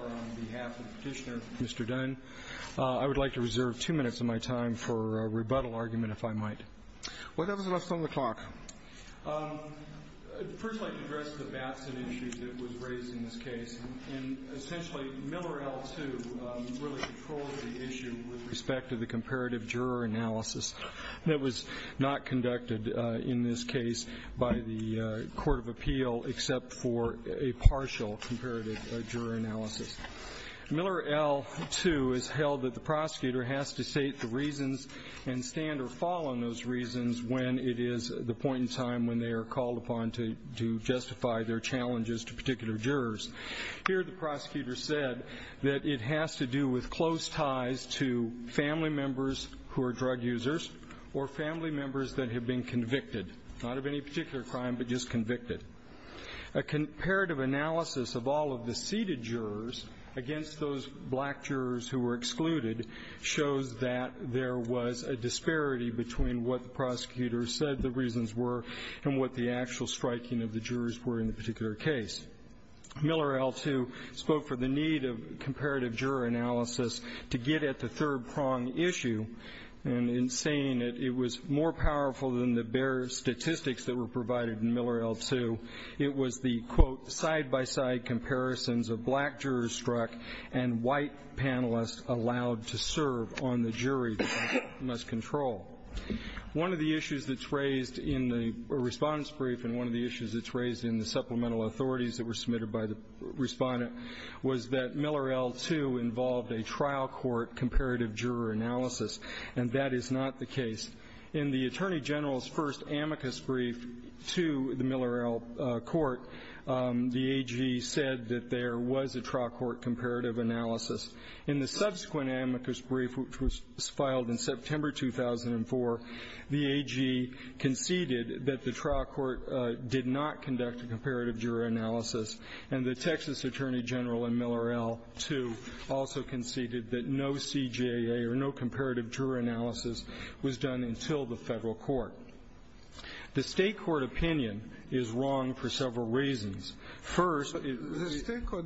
on behalf of Petitioner Mr. Dunn. I would like to reserve two minutes of my time for a rebuttal argument, if I might. Well, that was enough time on the clock. First, I'd like to address the Batson issue that was raised in this case. Essentially, Miller L2 really controlled the issue with respect to the comparative juror analysis that was not conducted in this case by the Court of Appeal except for a partial comparative juror analysis. Miller L2 has held that the prosecutor has to state the reasons and stand or fall on those reasons when it is the point in time when they are called upon to justify their challenges to particular jurors. Here, the prosecutor said that it has to do with close family members that have been convicted, not of any particular crime, but just convicted. A comparative analysis of all of the seated jurors against those black jurors who were excluded shows that there was a disparity between what the prosecutors said the reasons were and what the actual striking of the jurors were in the particular case. Miller L2 spoke for the need of comparative juror analysis to get at the third-prong issue, and in saying it, it was more powerful than the bare statistics that were provided in Miller L2. It was the, quote, side-by-side comparisons of black jurors struck and white panelists allowed to serve on the jury that they must control. One of the issues that's raised in the Respondent's Brief and one of the issues that's raised in the supplemental authorities that were submitted by the Respondent was that in the Attorney General's first amicus brief to the Miller L court, the AG said that there was a trial court comparative analysis. In the subsequent amicus brief, which was filed in September 2004, the AG conceded that the trial court did not conduct a comparative juror analysis, and the Texas Attorney General in Miller L2 also conceded that no CJA or no comparative juror analysis was done until the Federal court. The State court opinion is wrong for several reasons. First, it was a ---- The State court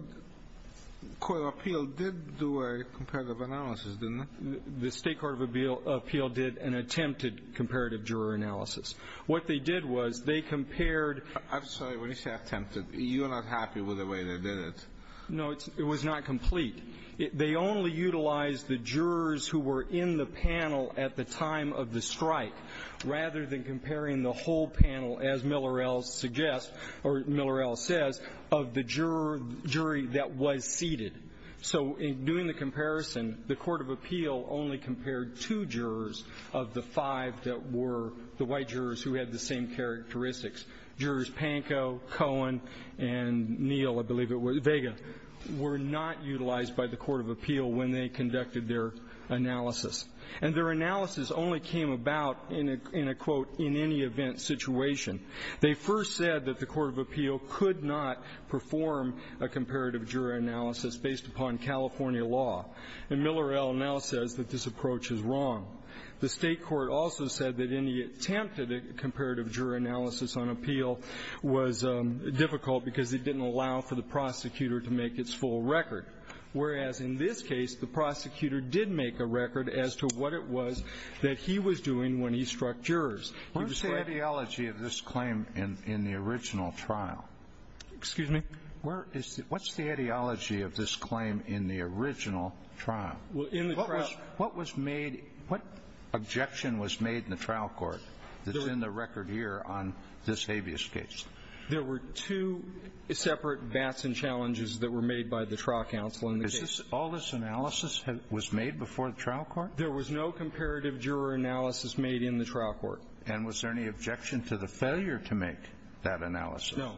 of appeal did do a comparative analysis, didn't it? The State court of appeal did an attempted comparative juror analysis. What they did was they compared ---- I'm sorry. When you say attempted, you're not happy with the way they did it. No, it was not complete. They only utilized the jurors who were in the panel at the time of the strike rather than comparing the whole panel, as Miller L suggests or Miller L says, of the juror jury that was seated. So in doing the comparison, the court of appeal only compared two jurors of the five that were the white jurors who had the same characteristics. Jurors Pankow, Cohen, and Neal, I believe it was, Vega, were not utilized by the court of appeal when they conducted their analysis. And their analysis only came about in a, in a, quote, in any event situation. They first said that the court of appeal could not perform a comparative juror analysis based upon California law. And Miller L now says that this approach is wrong. The State court also said that in the attempted comparative juror analysis on appeal was difficult because it didn't allow for the prosecutor to make its full record. Whereas, in this case, the prosecutor did make a record as to what it was that he was doing when he struck jurors. He was ---- What's the ideology of this claim in the original trial? Excuse me? Where is the ---- What's the ideology of this claim in the original trial? Well, in the trial ---- What was made, what objection was made in the trial court that's in the record here on this habeas case? There were two separate bats and challenges that were made by the trial counsel in the case. Is this, all this analysis was made before the trial court? There was no comparative juror analysis made in the trial court. And was there any objection to the failure to make that analysis? No.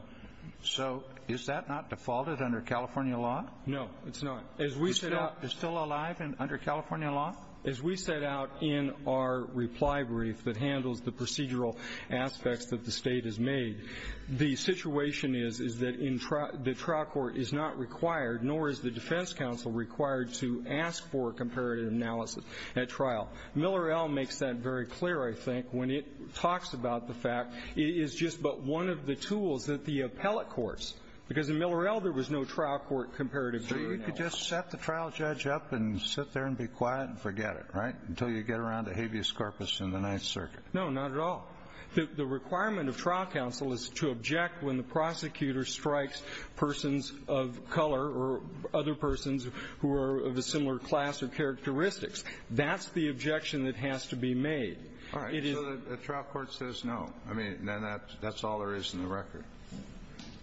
So is that not defaulted under California law? No, it's not. As we set up ---- California law? As we set out in our reply brief that handles the procedural aspects that the State has made, the situation is, is that in trial ---- the trial court is not required, nor is the defense counsel required to ask for comparative analysis at trial. Miller L. makes that very clear, I think, when it talks about the fact it is just but one of the tools that the appellate courts, because in Miller L. there was no trial court comparative juror analysis. So you could just set the trial judge up and sit there and be quiet and forget it, right, until you get around to habeas corpus in the Ninth Circuit? No, not at all. The requirement of trial counsel is to object when the prosecutor strikes persons of color or other persons who are of a similar class or characteristics. That's the objection that has to be made. All right. So the trial court says no. I mean, then that's all there is in the record.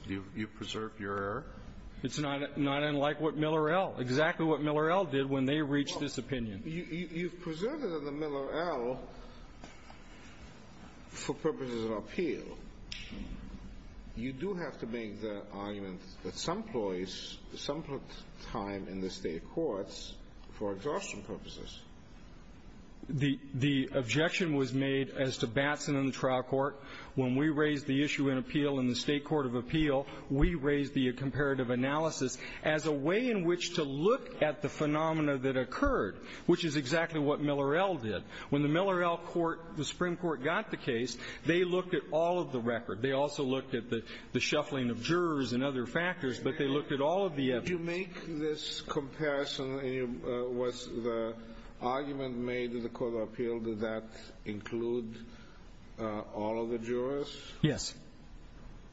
You've preserved your error? It's not unlike what Miller L. Exactly what Miller L. did when they reached this opinion. You've preserved it in the Miller L. for purposes of appeal. You do have to make the argument that some employees, some put time in the State courts for exhaustion purposes. The objection was made as to Batson and the trial court. When we raised the issue in appeal in the State court of appeal, we raised the comparative analysis as a way in which to look at the phenomena that occurred, which is exactly what Miller L. did. When the Miller L. Court, the Supreme Court, got the case, they looked at all of the record. They also looked at the shuffling of jurors and other factors, but they looked at all of the evidence. Did you make this comparison? Was the argument made in the court of appeal, did that include all of the jurors? Yes.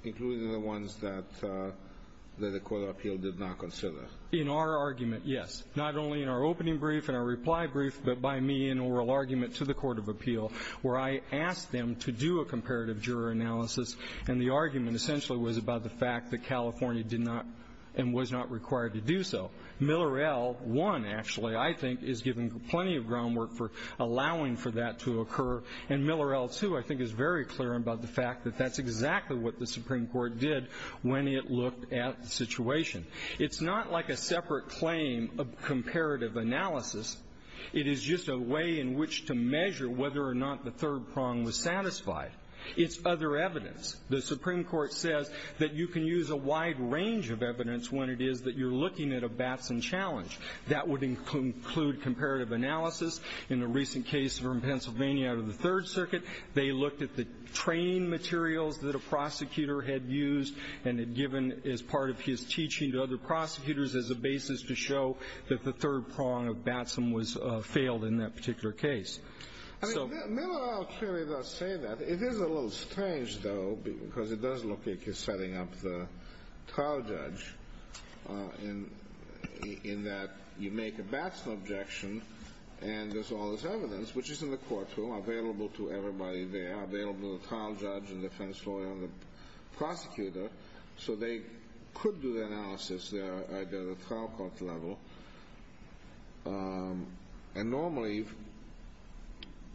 Including the ones that the court of appeal did not consider? In our argument, yes. Not only in our opening brief and our reply brief, but by me in oral argument to the court of appeal, where I asked them to do a comparative juror analysis, and the argument essentially was about the fact that California did not and was not required to do so. Miller L. One, actually, I think, is giving plenty of groundwork for allowing for that to occur, and Miller L. Two, I think, is very clear about the fact that that's exactly what the Supreme Court did when it looked at the situation. It's not like a separate claim of comparative analysis. It is just a way in which to measure whether or not the third prong was satisfied. It's other evidence. The Supreme Court says that you can use a wide range of evidence when it is that you're looking at a Batson challenge. That would include comparative analysis. In a recent case from Pennsylvania out of the Third Circuit, they looked at the training materials that a prosecutor had used and had given as part of his teaching to other prosecutors as a basis to show that the third prong of Batson was failed in that particular case. I mean, Miller L. clearly does say that. It is a little strange, though, because it does look like he's setting up the trial judge in that you make a Batson objection, and there's all this evidence, which is in the courtroom, available to everybody there, available to the trial judge and defense lawyer and the prosecutor. So they could do the analysis there at the trial court level. And normally,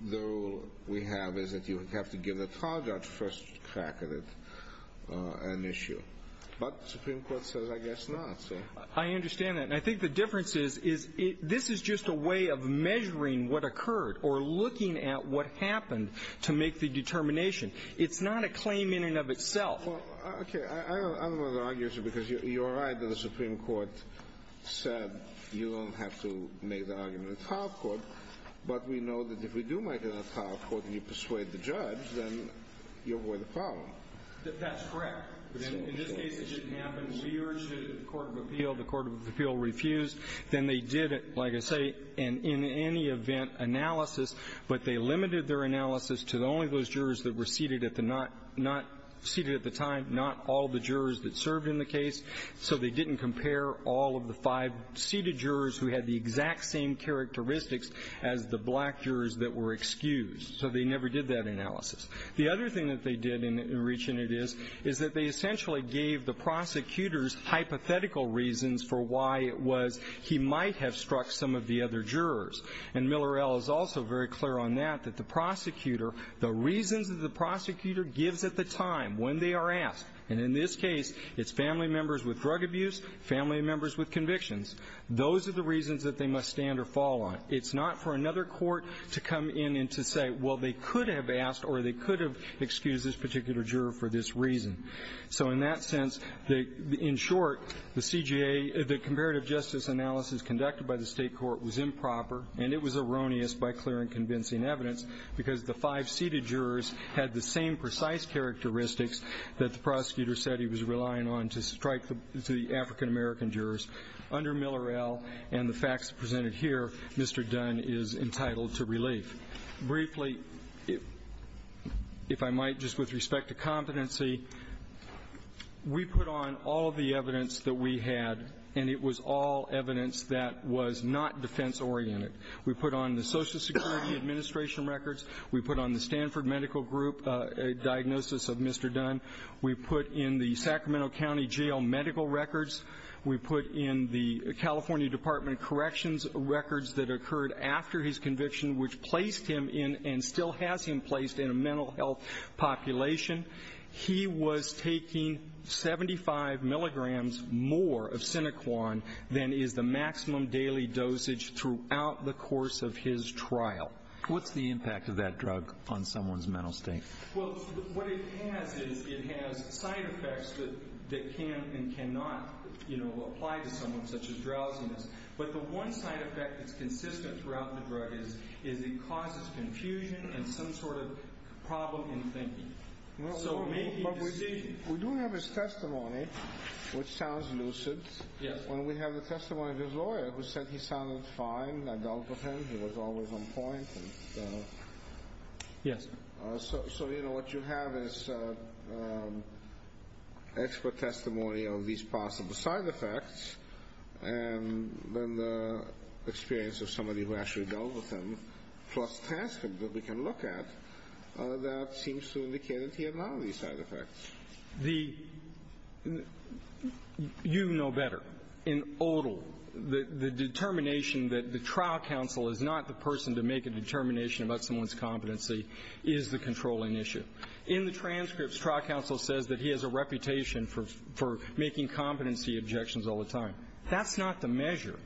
the rule we have is that you have to give the trial judge first crack at it an issue. But the Supreme Court says I guess not, so. I understand that. And I think the difference is, is this is just a way of measuring what occurred or looking at what happened to make the determination. It's not a claim in and of itself. Okay. I don't want to argue with you because you're right that the Supreme Court said you don't have to make the argument at trial court, but we know that if we do make it at trial court and you persuade the judge, then you avoid the problem. That's correct. But in this case, it didn't happen. We urged it at the court of appeal. The court of appeal refused. Then they did, like I say, an in any event analysis, but they limited their analysis to only those jurors that were seated at the not, not seated at the time, not all the jurors that served in the case. So they didn't compare all of the five seated jurors who had the exact same characteristics as the black jurors that were excused. So they never did that analysis. The other thing that they did in reaching it is, is that they essentially gave the prosecutors hypothetical reasons for why it was he might have struck some of the other jurors. And Miller L. Is also very clear on that, that the prosecutor, the reasons that the prosecutor gives at the time when they are asked, and in this case, it's family members with drug abuse, family members with convictions. Those are the reasons that they must stand or fall on. It's not for another court to come in and to say, well, they could have asked or they could have excused this particular juror for this reason. So in that sense, in short, the CJA, the comparative justice analysis conducted by the State court was improper, and it was erroneous by clear and convincing evidence because the five seated jurors had the same precise characteristics that the prosecutor said he was relying on to strike the African-American jurors under Miller L. And the facts presented here, Mr. Dunn is entitled to relief. Briefly, if I might, just with respect to competency, we put on all of the evidence that we had, and it was all evidence that was not defense oriented. We put on the Social Security Administration records. We put on the Stanford Medical Group diagnosis of Mr. Dunn. We put in the Sacramento County Jail medical records. We put in the California Department of Corrections records that occurred after his conviction which placed him in and still has him placed in a mental health population. He was taking 75 milligrams more of Sinoquan than is the maximum daily dosage throughout the course of his trial. What's the impact of that drug on someone's mental state? Well, what it has is it has side effects that can and cannot, you know, apply to someone such as drowsiness, but the one side effect that's consistent throughout the drug is it causes confusion and some sort of problem in thinking. So making decisions. We do have his testimony which sounds lucid. Yes. And we have the testimony of his lawyer who said he sounded fine. I doubted him. He was always on point. Yes. So, you know, what you have is expert testimony of these possible side effects and then the experience of somebody who actually dealt with him plus transcripts that we can look at that seems to indicate that he had none of these side effects. You know better. In odal, the determination that the trial counsel is not the person to make a determination about someone's competency is the controlling issue. In the transcripts, trial counsel says that he has a reputation for making competency objections all the time. That's not the measure.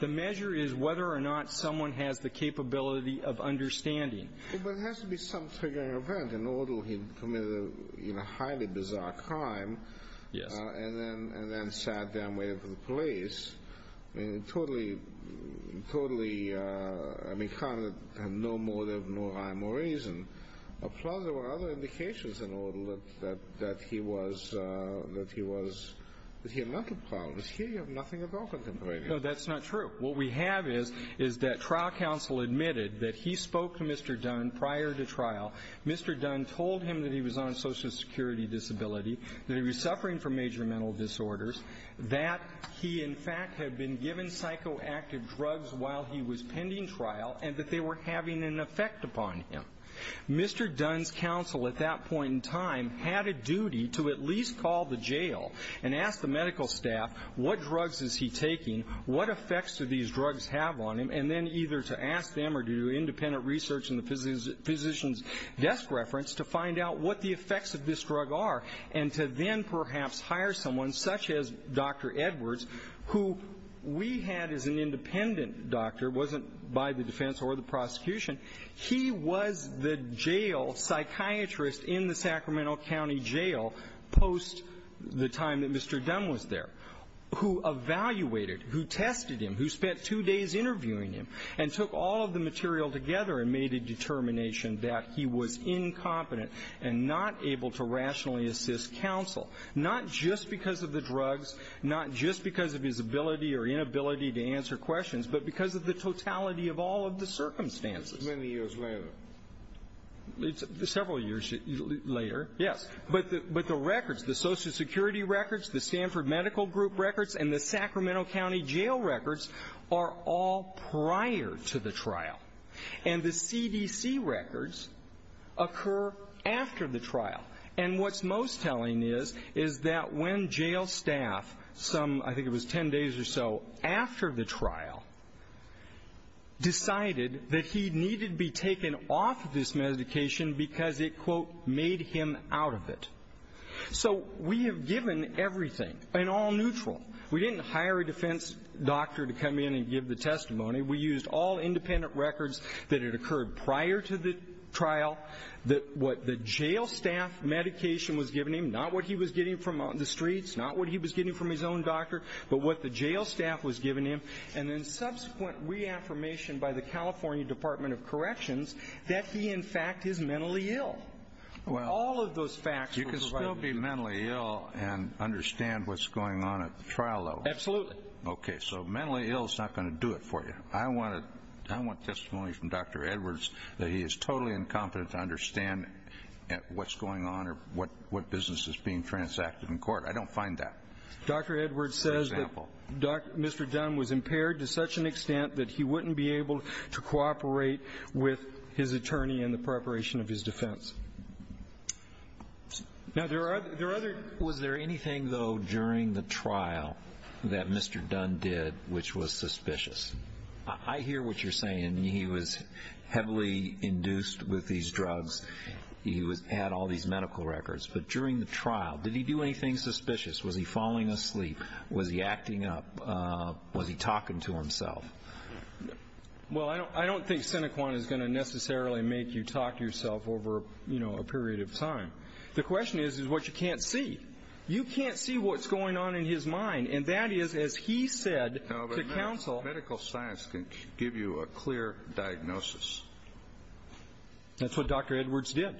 The measure is whether or not someone has the capability of understanding. But it has to be some triggering event. In odal, he committed a highly bizarre crime. Yes. And then sat down and waited for the police. I mean, totally, totally, I mean, kind of no motive, no rhyme or reason. Plus there were other indications in odal that he was, that he had mental problems. Here you have nothing at all contemplating. No, that's not true. What we have is, is that trial counsel admitted that he spoke to Mr. Dunn prior to trial. Mr. Dunn told him that he was on social security disability, that he was suffering from major mental disorders, that he in fact had been given psychoactive drugs while he was pending trial, and that they were having an effect upon him. Mr. Dunn's counsel at that point in time had a duty to at least call the jail and ask the medical staff, what drugs is he taking, what effects do these drugs have on him, and then either to ask them or to do independent research in the physician's desk reference to find out what the effects of this drug are, and to then perhaps hire someone such as Dr. Edwards, who we had as an independent doctor, wasn't by the defense or the prosecution. He was the jail psychiatrist in the Sacramento County Jail post the time that Mr. Dunn was there, who evaluated, who tested him, who spent two days interviewing him, and took all of the material together and made a determination that he was incompetent and not able to rationally assist counsel, not just because of the drugs, not just because of his ability or inability to answer questions, but because of the totality of all of the circumstances. Many years later. Several years later, yes. But the records, the Social Security records, the Stanford Medical Group records, and the Sacramento County Jail records are all prior to the trial. And the CDC records occur after the trial. And what's most telling is, is that when jail staff, some, I think it was ten days or so, after the trial decided that he needed to be taken off this medication because it, quote, made him out of it. So we have given everything and all neutral. We didn't hire a defense doctor to come in and give the testimony. We used all independent records that had occurred prior to the trial. What the jail staff medication was giving him, not what he was getting from the streets, not what he was getting from his own doctor, but what the jail staff was giving him, and then subsequent reaffirmation by the California Department of Corrections that he, in fact, is mentally ill. All of those facts were provided. You can still be mentally ill and understand what's going on at the trial level. Absolutely. Okay, so mentally ill is not going to do it for you. I want testimony from Dr. Edwards that he is totally incompetent to understand what's going on or what business is being transacted in court. I don't find that. For example. Dr. Edwards says that Mr. Dunn was impaired to such an extent that he wouldn't be able to cooperate with his attorney in the preparation of his defense. Now, was there anything, though, during the trial that Mr. Dunn did which was suspicious? I hear what you're saying. He was heavily induced with these drugs. He had all these medical records. But during the trial, did he do anything suspicious? Was he falling asleep? Was he acting up? Was he talking to himself? Well, I don't think Senequan is going to necessarily make you talk to yourself over a period of time. The question is what you can't see. You can't see what's going on in his mind, and that is, as he said to counsel. No, but medical science can give you a clear diagnosis. That's what Dr. Edwards did.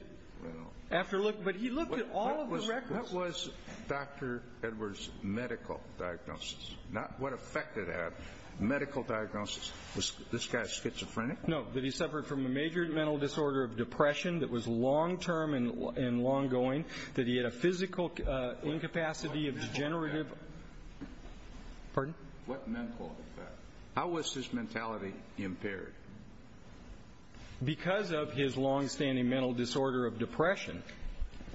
But he looked at all of the records. What was Dr. Edwards' medical diagnosis? Not what effect did it have. Medical diagnosis, was this guy schizophrenic? No, that he suffered from a major mental disorder of depression that was long-term and long-going, that he had a physical incapacity of degenerative. What mental effect? Pardon? What mental effect? How was his mentality impaired? Because of his long-standing mental disorder of depression,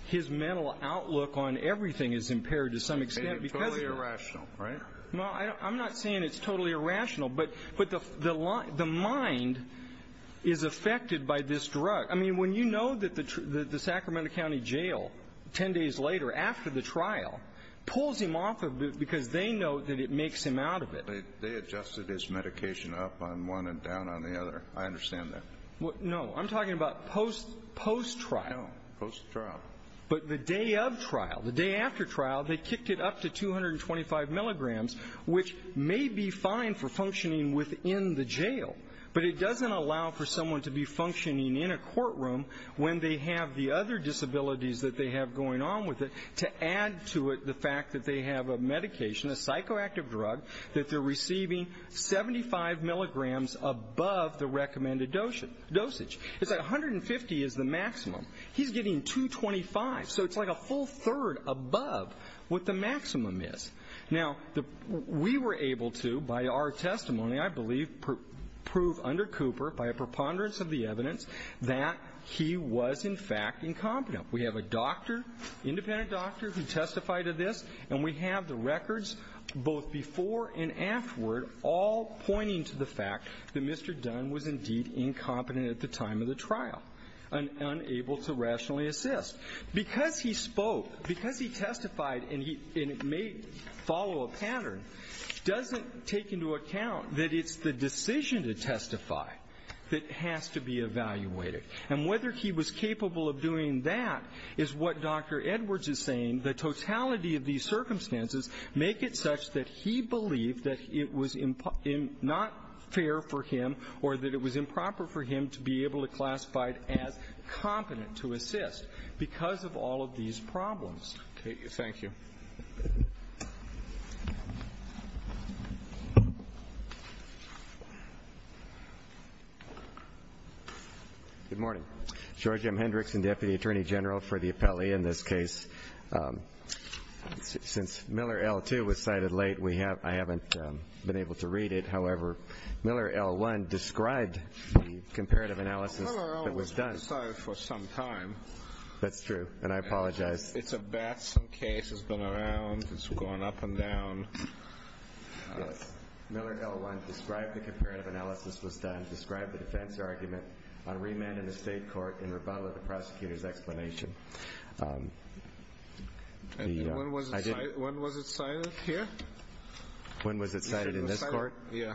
his mental outlook on everything is impaired to some extent because of that. That's irrational, right? Well, I'm not saying it's totally irrational, but the mind is affected by this drug. I mean, when you know that the Sacramento County Jail, 10 days later after the trial, pulls him off of it because they know that it makes him out of it. They adjusted his medication up on one and down on the other. I understand that. No, I'm talking about post-trial. No, post-trial. But the day of trial, the day after trial, they kicked it up to 225 milligrams, which may be fine for functioning within the jail, but it doesn't allow for someone to be functioning in a courtroom when they have the other disabilities that they have going on with it, to add to it the fact that they have a medication, a psychoactive drug, that they're receiving 75 milligrams above the recommended dosage. It's like 150 is the maximum. He's getting 225. So it's like a full third above what the maximum is. Now, we were able to, by our testimony, I believe, prove under Cooper, by a preponderance of the evidence, that he was, in fact, incompetent. We have a doctor, independent doctor, who testified to this, and we have the records both before and afterward all pointing to the fact that Mr. Dunn was indeed incompetent at the time of the trial and unable to rationally assist. Because he spoke, because he testified, and it may follow a pattern, doesn't take into account that it's the decision to testify that has to be evaluated. And whether he was capable of doing that is what Dr. Edwards is saying. The totality of these circumstances make it such that he believed that it was not fair for him or that it was improper for him to be able to classify as competent to assist because of all of these problems. Okay. Thank you. Good morning. George M. Hendrickson, Deputy Attorney General for the appellee in this case. Since Miller L. 2 was cited late, I haven't been able to read it. However, Miller L. 1 described the comparative analysis that was done. Miller L. was cited for some time. That's true, and I apologize. It's a bad case. It's been around. It's gone up and down. Miller L. 1 described the comparative analysis was done, described the defense argument on remand in the state court in rebuttal to the prosecutor's explanation. When was it cited here? When was it cited in this court? Yeah.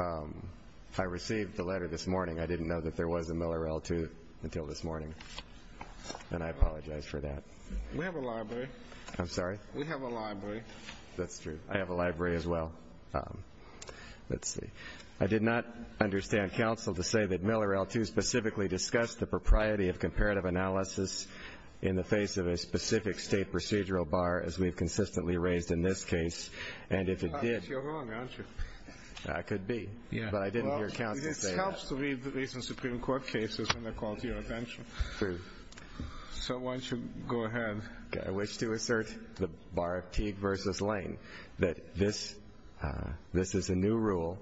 I received the letter this morning. I didn't know that there was a Miller L. 2 until this morning, and I apologize for that. We have a library. I'm sorry? We have a library. That's true. I have a library as well. Let's see. I did not understand counsel to say that Miller L. 2 specifically discussed the propriety of comparative analysis in the face of a specific state procedural bar as we've consistently raised in this case, and if it did. You're wrong, aren't you? I could be, but I didn't hear counsel say that. It helps to read the recent Supreme Court cases when they're called to your attention. True. So why don't you go ahead. I wish to assert the bar of Teague v. Lane that this is a new rule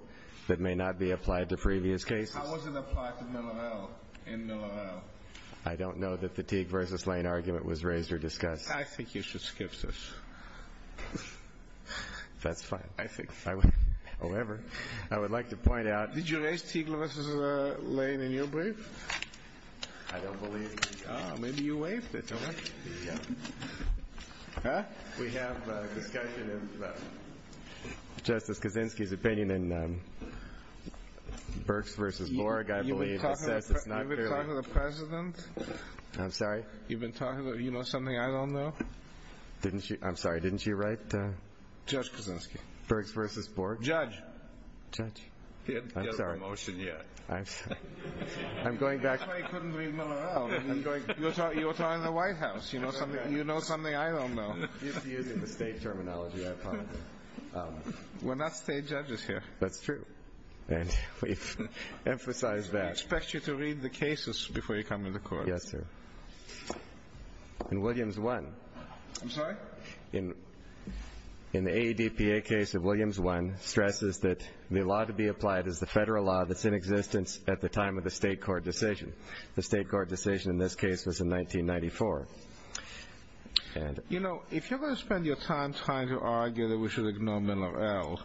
that may not be applied to previous cases. How was it applied to Miller L. in Miller L.? I don't know that the Teague v. Lane argument was raised or discussed. I think you should skip this. That's fine. However, I would like to point out. Did you raise Teague v. Lane in your brief? I don't believe. Maybe you waived it. We have a discussion in Justice Kaczynski's opinion in Burks v. Borg, I believe. Have you been talking to the President? I'm sorry? You know something I don't know? I'm sorry. Didn't you write? Judge Kaczynski. Burks v. Borg? Judge. Judge. He hasn't got a promotion yet. I'm sorry. I'm going back. That's why he couldn't read Miller L. You were talking to the White House. You know something I don't know. You're using the state terminology, I apologize. We're not state judges here. That's true, and we've emphasized that. I expect you to read the cases before you come into court. Yes, sir. In Williams I. I'm sorry? In the ADPA case of Williams I, stresses that the law to be applied is the federal law that's in existence at the time of the state court decision. The state court decision in this case was in 1994. You know, if you're going to spend your time trying to argue that we should ignore Miller L.,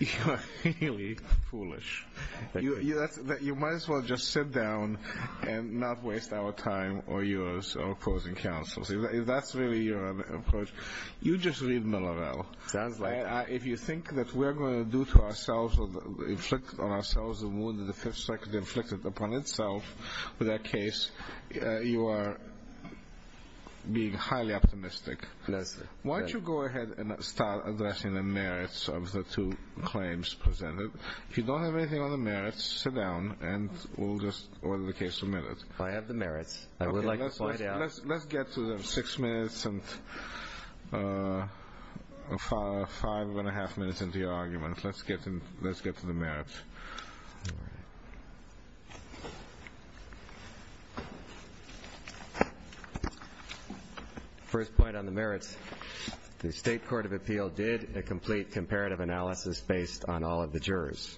you're really foolish. You might as well just sit down and not waste our time or yours opposing counsel. If that's really your approach, you just read Miller L. Sounds like it. If you think that we're going to do to ourselves or inflict on ourselves a wound that the Fifth Circuit inflicted upon itself with that case, you are being highly optimistic. Yes, sir. Why don't you go ahead and start addressing the merits of the two claims presented. If you don't have anything on the merits, sit down and we'll just order the case submitted. I have the merits. I would like to point out. Let's get to the six minutes and five and a half minutes into your argument. Let's get to the merits. All right. First point on the merits. The state court of appeal did a complete comparative analysis based on all of the jurors,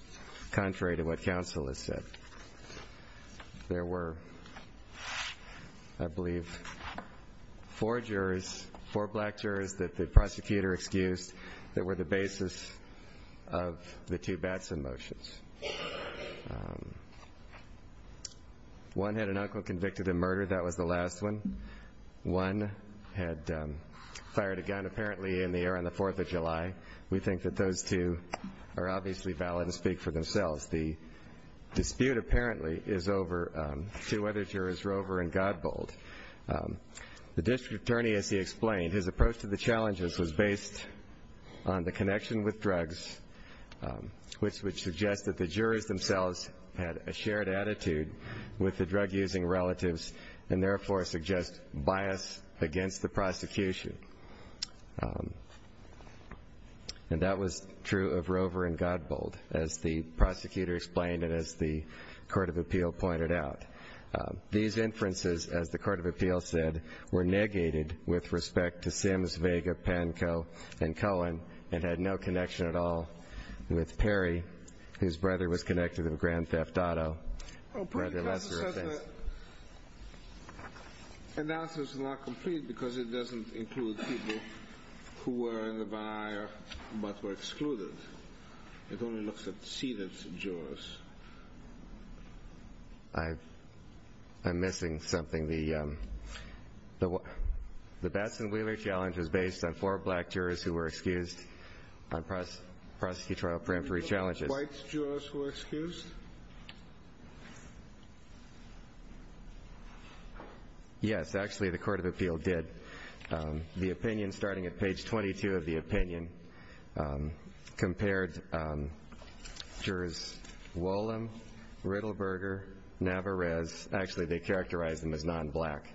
contrary to what counsel has said. There were, I believe, four jurors, four black jurors that the prosecutor excused that were the basis of the two Batson motions. One had an uncle convicted of murder. That was the last one. One had fired a gun apparently in the air on the Fourth of July. We think that those two are obviously valid and speak for themselves. The dispute apparently is over two other jurors, Rover and Godbold. The district attorney, as he explained, his approach to the challenges was based on the connection with drugs, which would suggest that the jurors themselves had a shared attitude with the drug-using relatives And that was true of Rover and Godbold, as the prosecutor explained and as the court of appeal pointed out. These inferences, as the court of appeal said, were negated with respect to Sims, Vega, Pankow, and Cohen, and had no connection at all with Perry, whose brother was connected with Grand Theft Auto. The analysis is not complete because it doesn't include people who were in the bar, but were excluded. It only looks at seated jurors. I'm missing something. The Batson-Wheeler challenge was based on four black jurors who were excused on prosecutorial peremptory challenges. Were the white jurors who were excused? Yes, actually, the court of appeal did. The opinion, starting at page 22 of the opinion, compared jurors Wollum, Riddleberger, Navarez. Actually, they characterized them as non-black.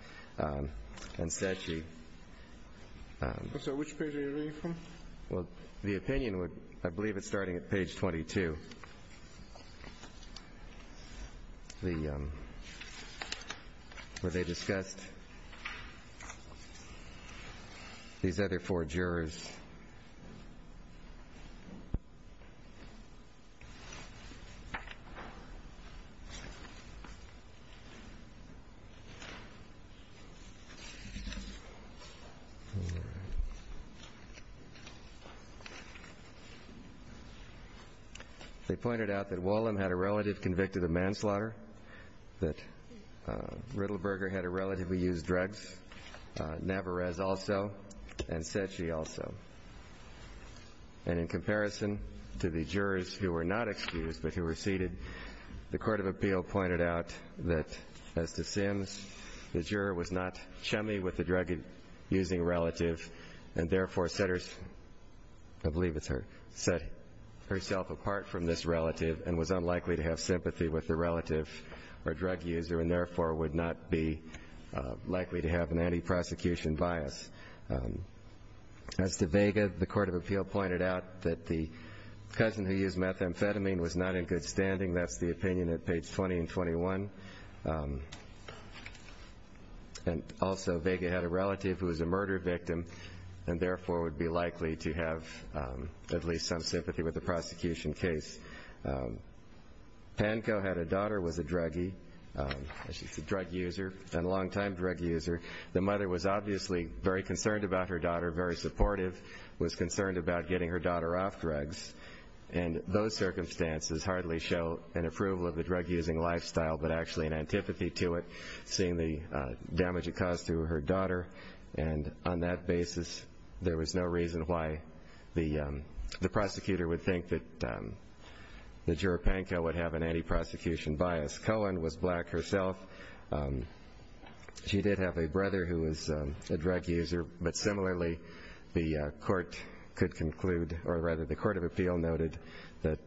Which page are you reading from? The opinion, I believe it's starting at page 22, where they discussed these other four jurors. They pointed out that Wollum had a relative convicted of manslaughter, that Riddleberger had a relative who used drugs, Navarez also, and Cechi also. And in comparison to the jurors who were not excused but who were seated, the court of appeal pointed out that, as to Sims, the juror was not chummy with the drug-using relative and, therefore, set herself apart from this relative and was unlikely to have sympathy with the relative or drug user and, therefore, would not be likely to have an anti-prosecution bias. As to Vega, the court of appeal pointed out that the cousin who used methamphetamine was not in good standing. That's the opinion at page 20 and 21. And, also, Vega had a relative who was a murder victim and, therefore, would be likely to have at least some sympathy with the prosecution case. Pankow had a daughter who was a druggie. She's a drug user and a longtime drug user. The mother was obviously very concerned about her daughter, very supportive, was concerned about getting her daughter off drugs. And those circumstances hardly show an approval of the drug-using lifestyle but actually an antipathy to it, seeing the damage it caused to her daughter. And on that basis, there was no reason why the prosecutor would think that Juror Pankow would have an anti-prosecution bias. Cohen was black herself. She did have a brother who was a drug user. But, similarly, the court could conclude or, rather, the court of appeal noted that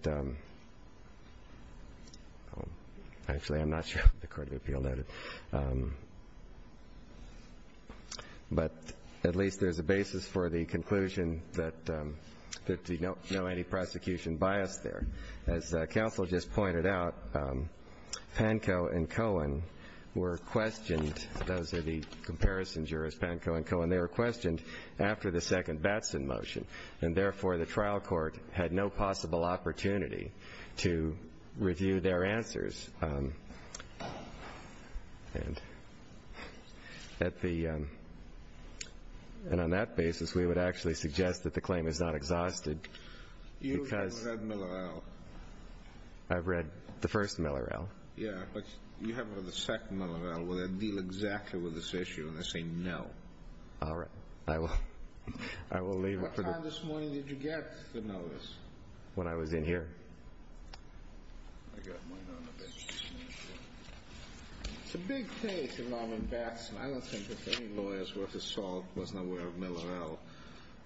at least there's a basis for the conclusion that there's no anti-prosecution bias there. As counsel just pointed out, Pankow and Cohen were questioned. Those are the comparison jurors, Pankow and Cohen. They were questioned after the second Batson motion. And, therefore, the trial court had no possible opportunity to review their answers. And on that basis, we would actually suggest that the claim is not exhausted. You haven't read Miller-El. I've read the first Miller-El. Yeah, but you haven't read the second Miller-El where they deal exactly with this issue and they say no. All right. I will leave it for the... What time this morning did you get the notice? When I was in here. I've got mine on the bench. It's a big case of Norman Batson. I don't think that any lawyer's worth of salt wasn't aware of Miller-El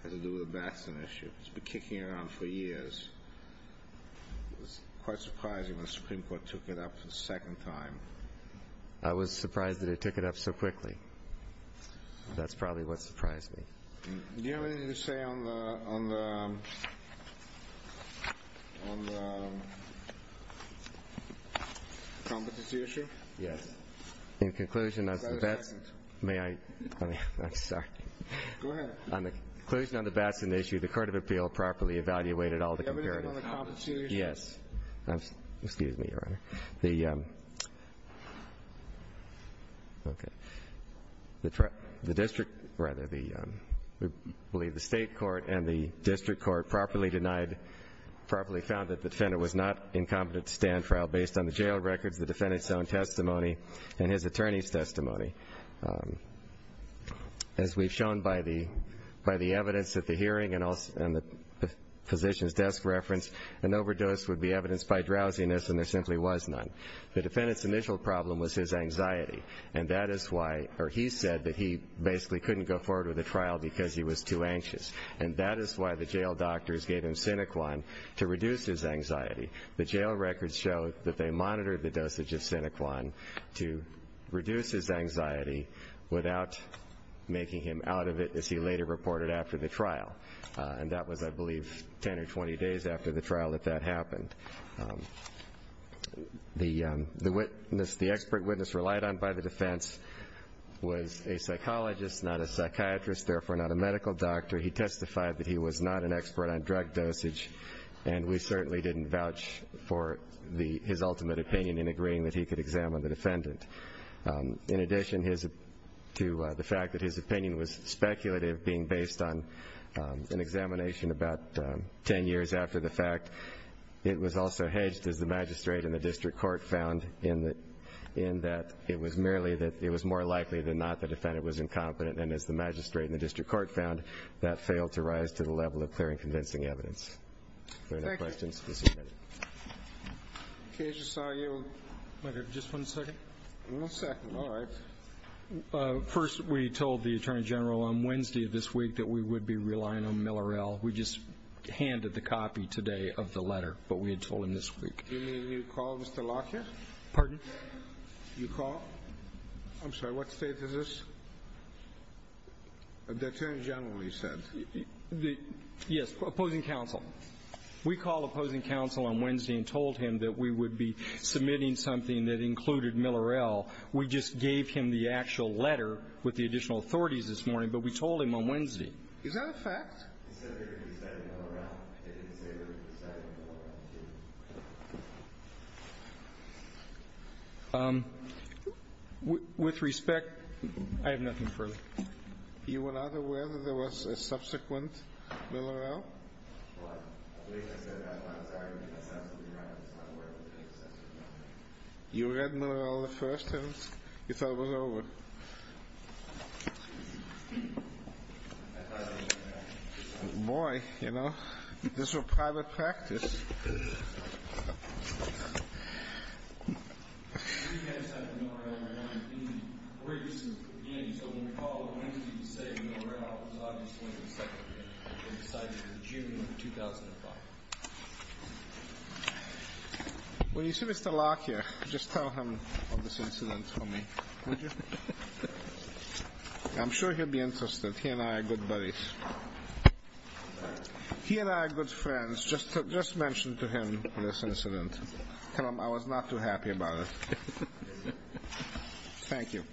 had to do with the Batson issue. It's been kicking around for years. It was quite surprising when the Supreme Court took it up for the second time. I was surprised that it took it up so quickly. That's probably what surprised me. Do you have anything to say on the competency issue? Yes. Is that a second? May I? I'm sorry. Go ahead. On the conclusion of the Batson issue, the Court of Appeal properly evaluated all the comparative... Do you have anything on the competency issue? Yes. Excuse me, Your Honor. Okay. The district... Rather, I believe the state court and the district court properly denied, properly found that the defendant was not incompetent to stand trial based on the jail records, the defendant's own testimony, and his attorney's testimony. As we've shown by the evidence at the hearing and the physician's desk reference, an overdose would be evidenced by drowsiness, and there simply was none. The defendant's initial problem was his anxiety, and that is why he said that he basically couldn't go forward with the trial because he was too anxious, and that is why the jail doctors gave him Sinequan to reduce his anxiety. The jail records show that they monitored the dosage of Sinequan to reduce his anxiety without making him out of it, as he later reported after the trial. And that was, I believe, 10 or 20 days after the trial that that happened. The expert witness relied on by the defense was a psychologist, not a psychiatrist, therefore not a medical doctor. He testified that he was not an expert on drug dosage, and we certainly didn't vouch for his ultimate opinion in agreeing that he could examine the defendant. In addition to the fact that his opinion was speculative, being based on an examination about 10 years after the fact, it was also hedged, as the magistrate and the district court found, in that it was more likely than not the defendant was incompetent, and as the magistrate and the district court found, that failed to rise to the level of clear and convincing evidence. Are there any questions? Okay. Just one second. One second. All right. First, we told the attorney general on Wednesday of this week that we would be relying on Millerell. We just handed the copy today of the letter, but we had told him this week. You mean you called Mr. Lockett? Pardon? You called? I'm sorry. What state is this? The attorney general, you said. Yes. Opposing counsel. We called opposing counsel on Wednesday and told him that we would be submitting something that included Millerell. We just gave him the actual letter with the additional authorities this morning, but we told him on Wednesday. Is that a fact? He said they were deciding on Millerell. They didn't say they were deciding on Millerell. With respect, I have nothing further. You were not aware that there was a subsequent Millerell? What? I believe I said that when I was arguing. That sounds to be right. I was not aware that there was a subsequent Millerell. You read Millerell the first time? You thought it was over? Boy, you know, this was private practice. When you see Mr. Locke here, just tell him of this incident for me, would you? I'm sure he'll be interested. He and I are good buddies. He and I are good friends. Just mention to him this incident. I was not too happy about it. Thank you.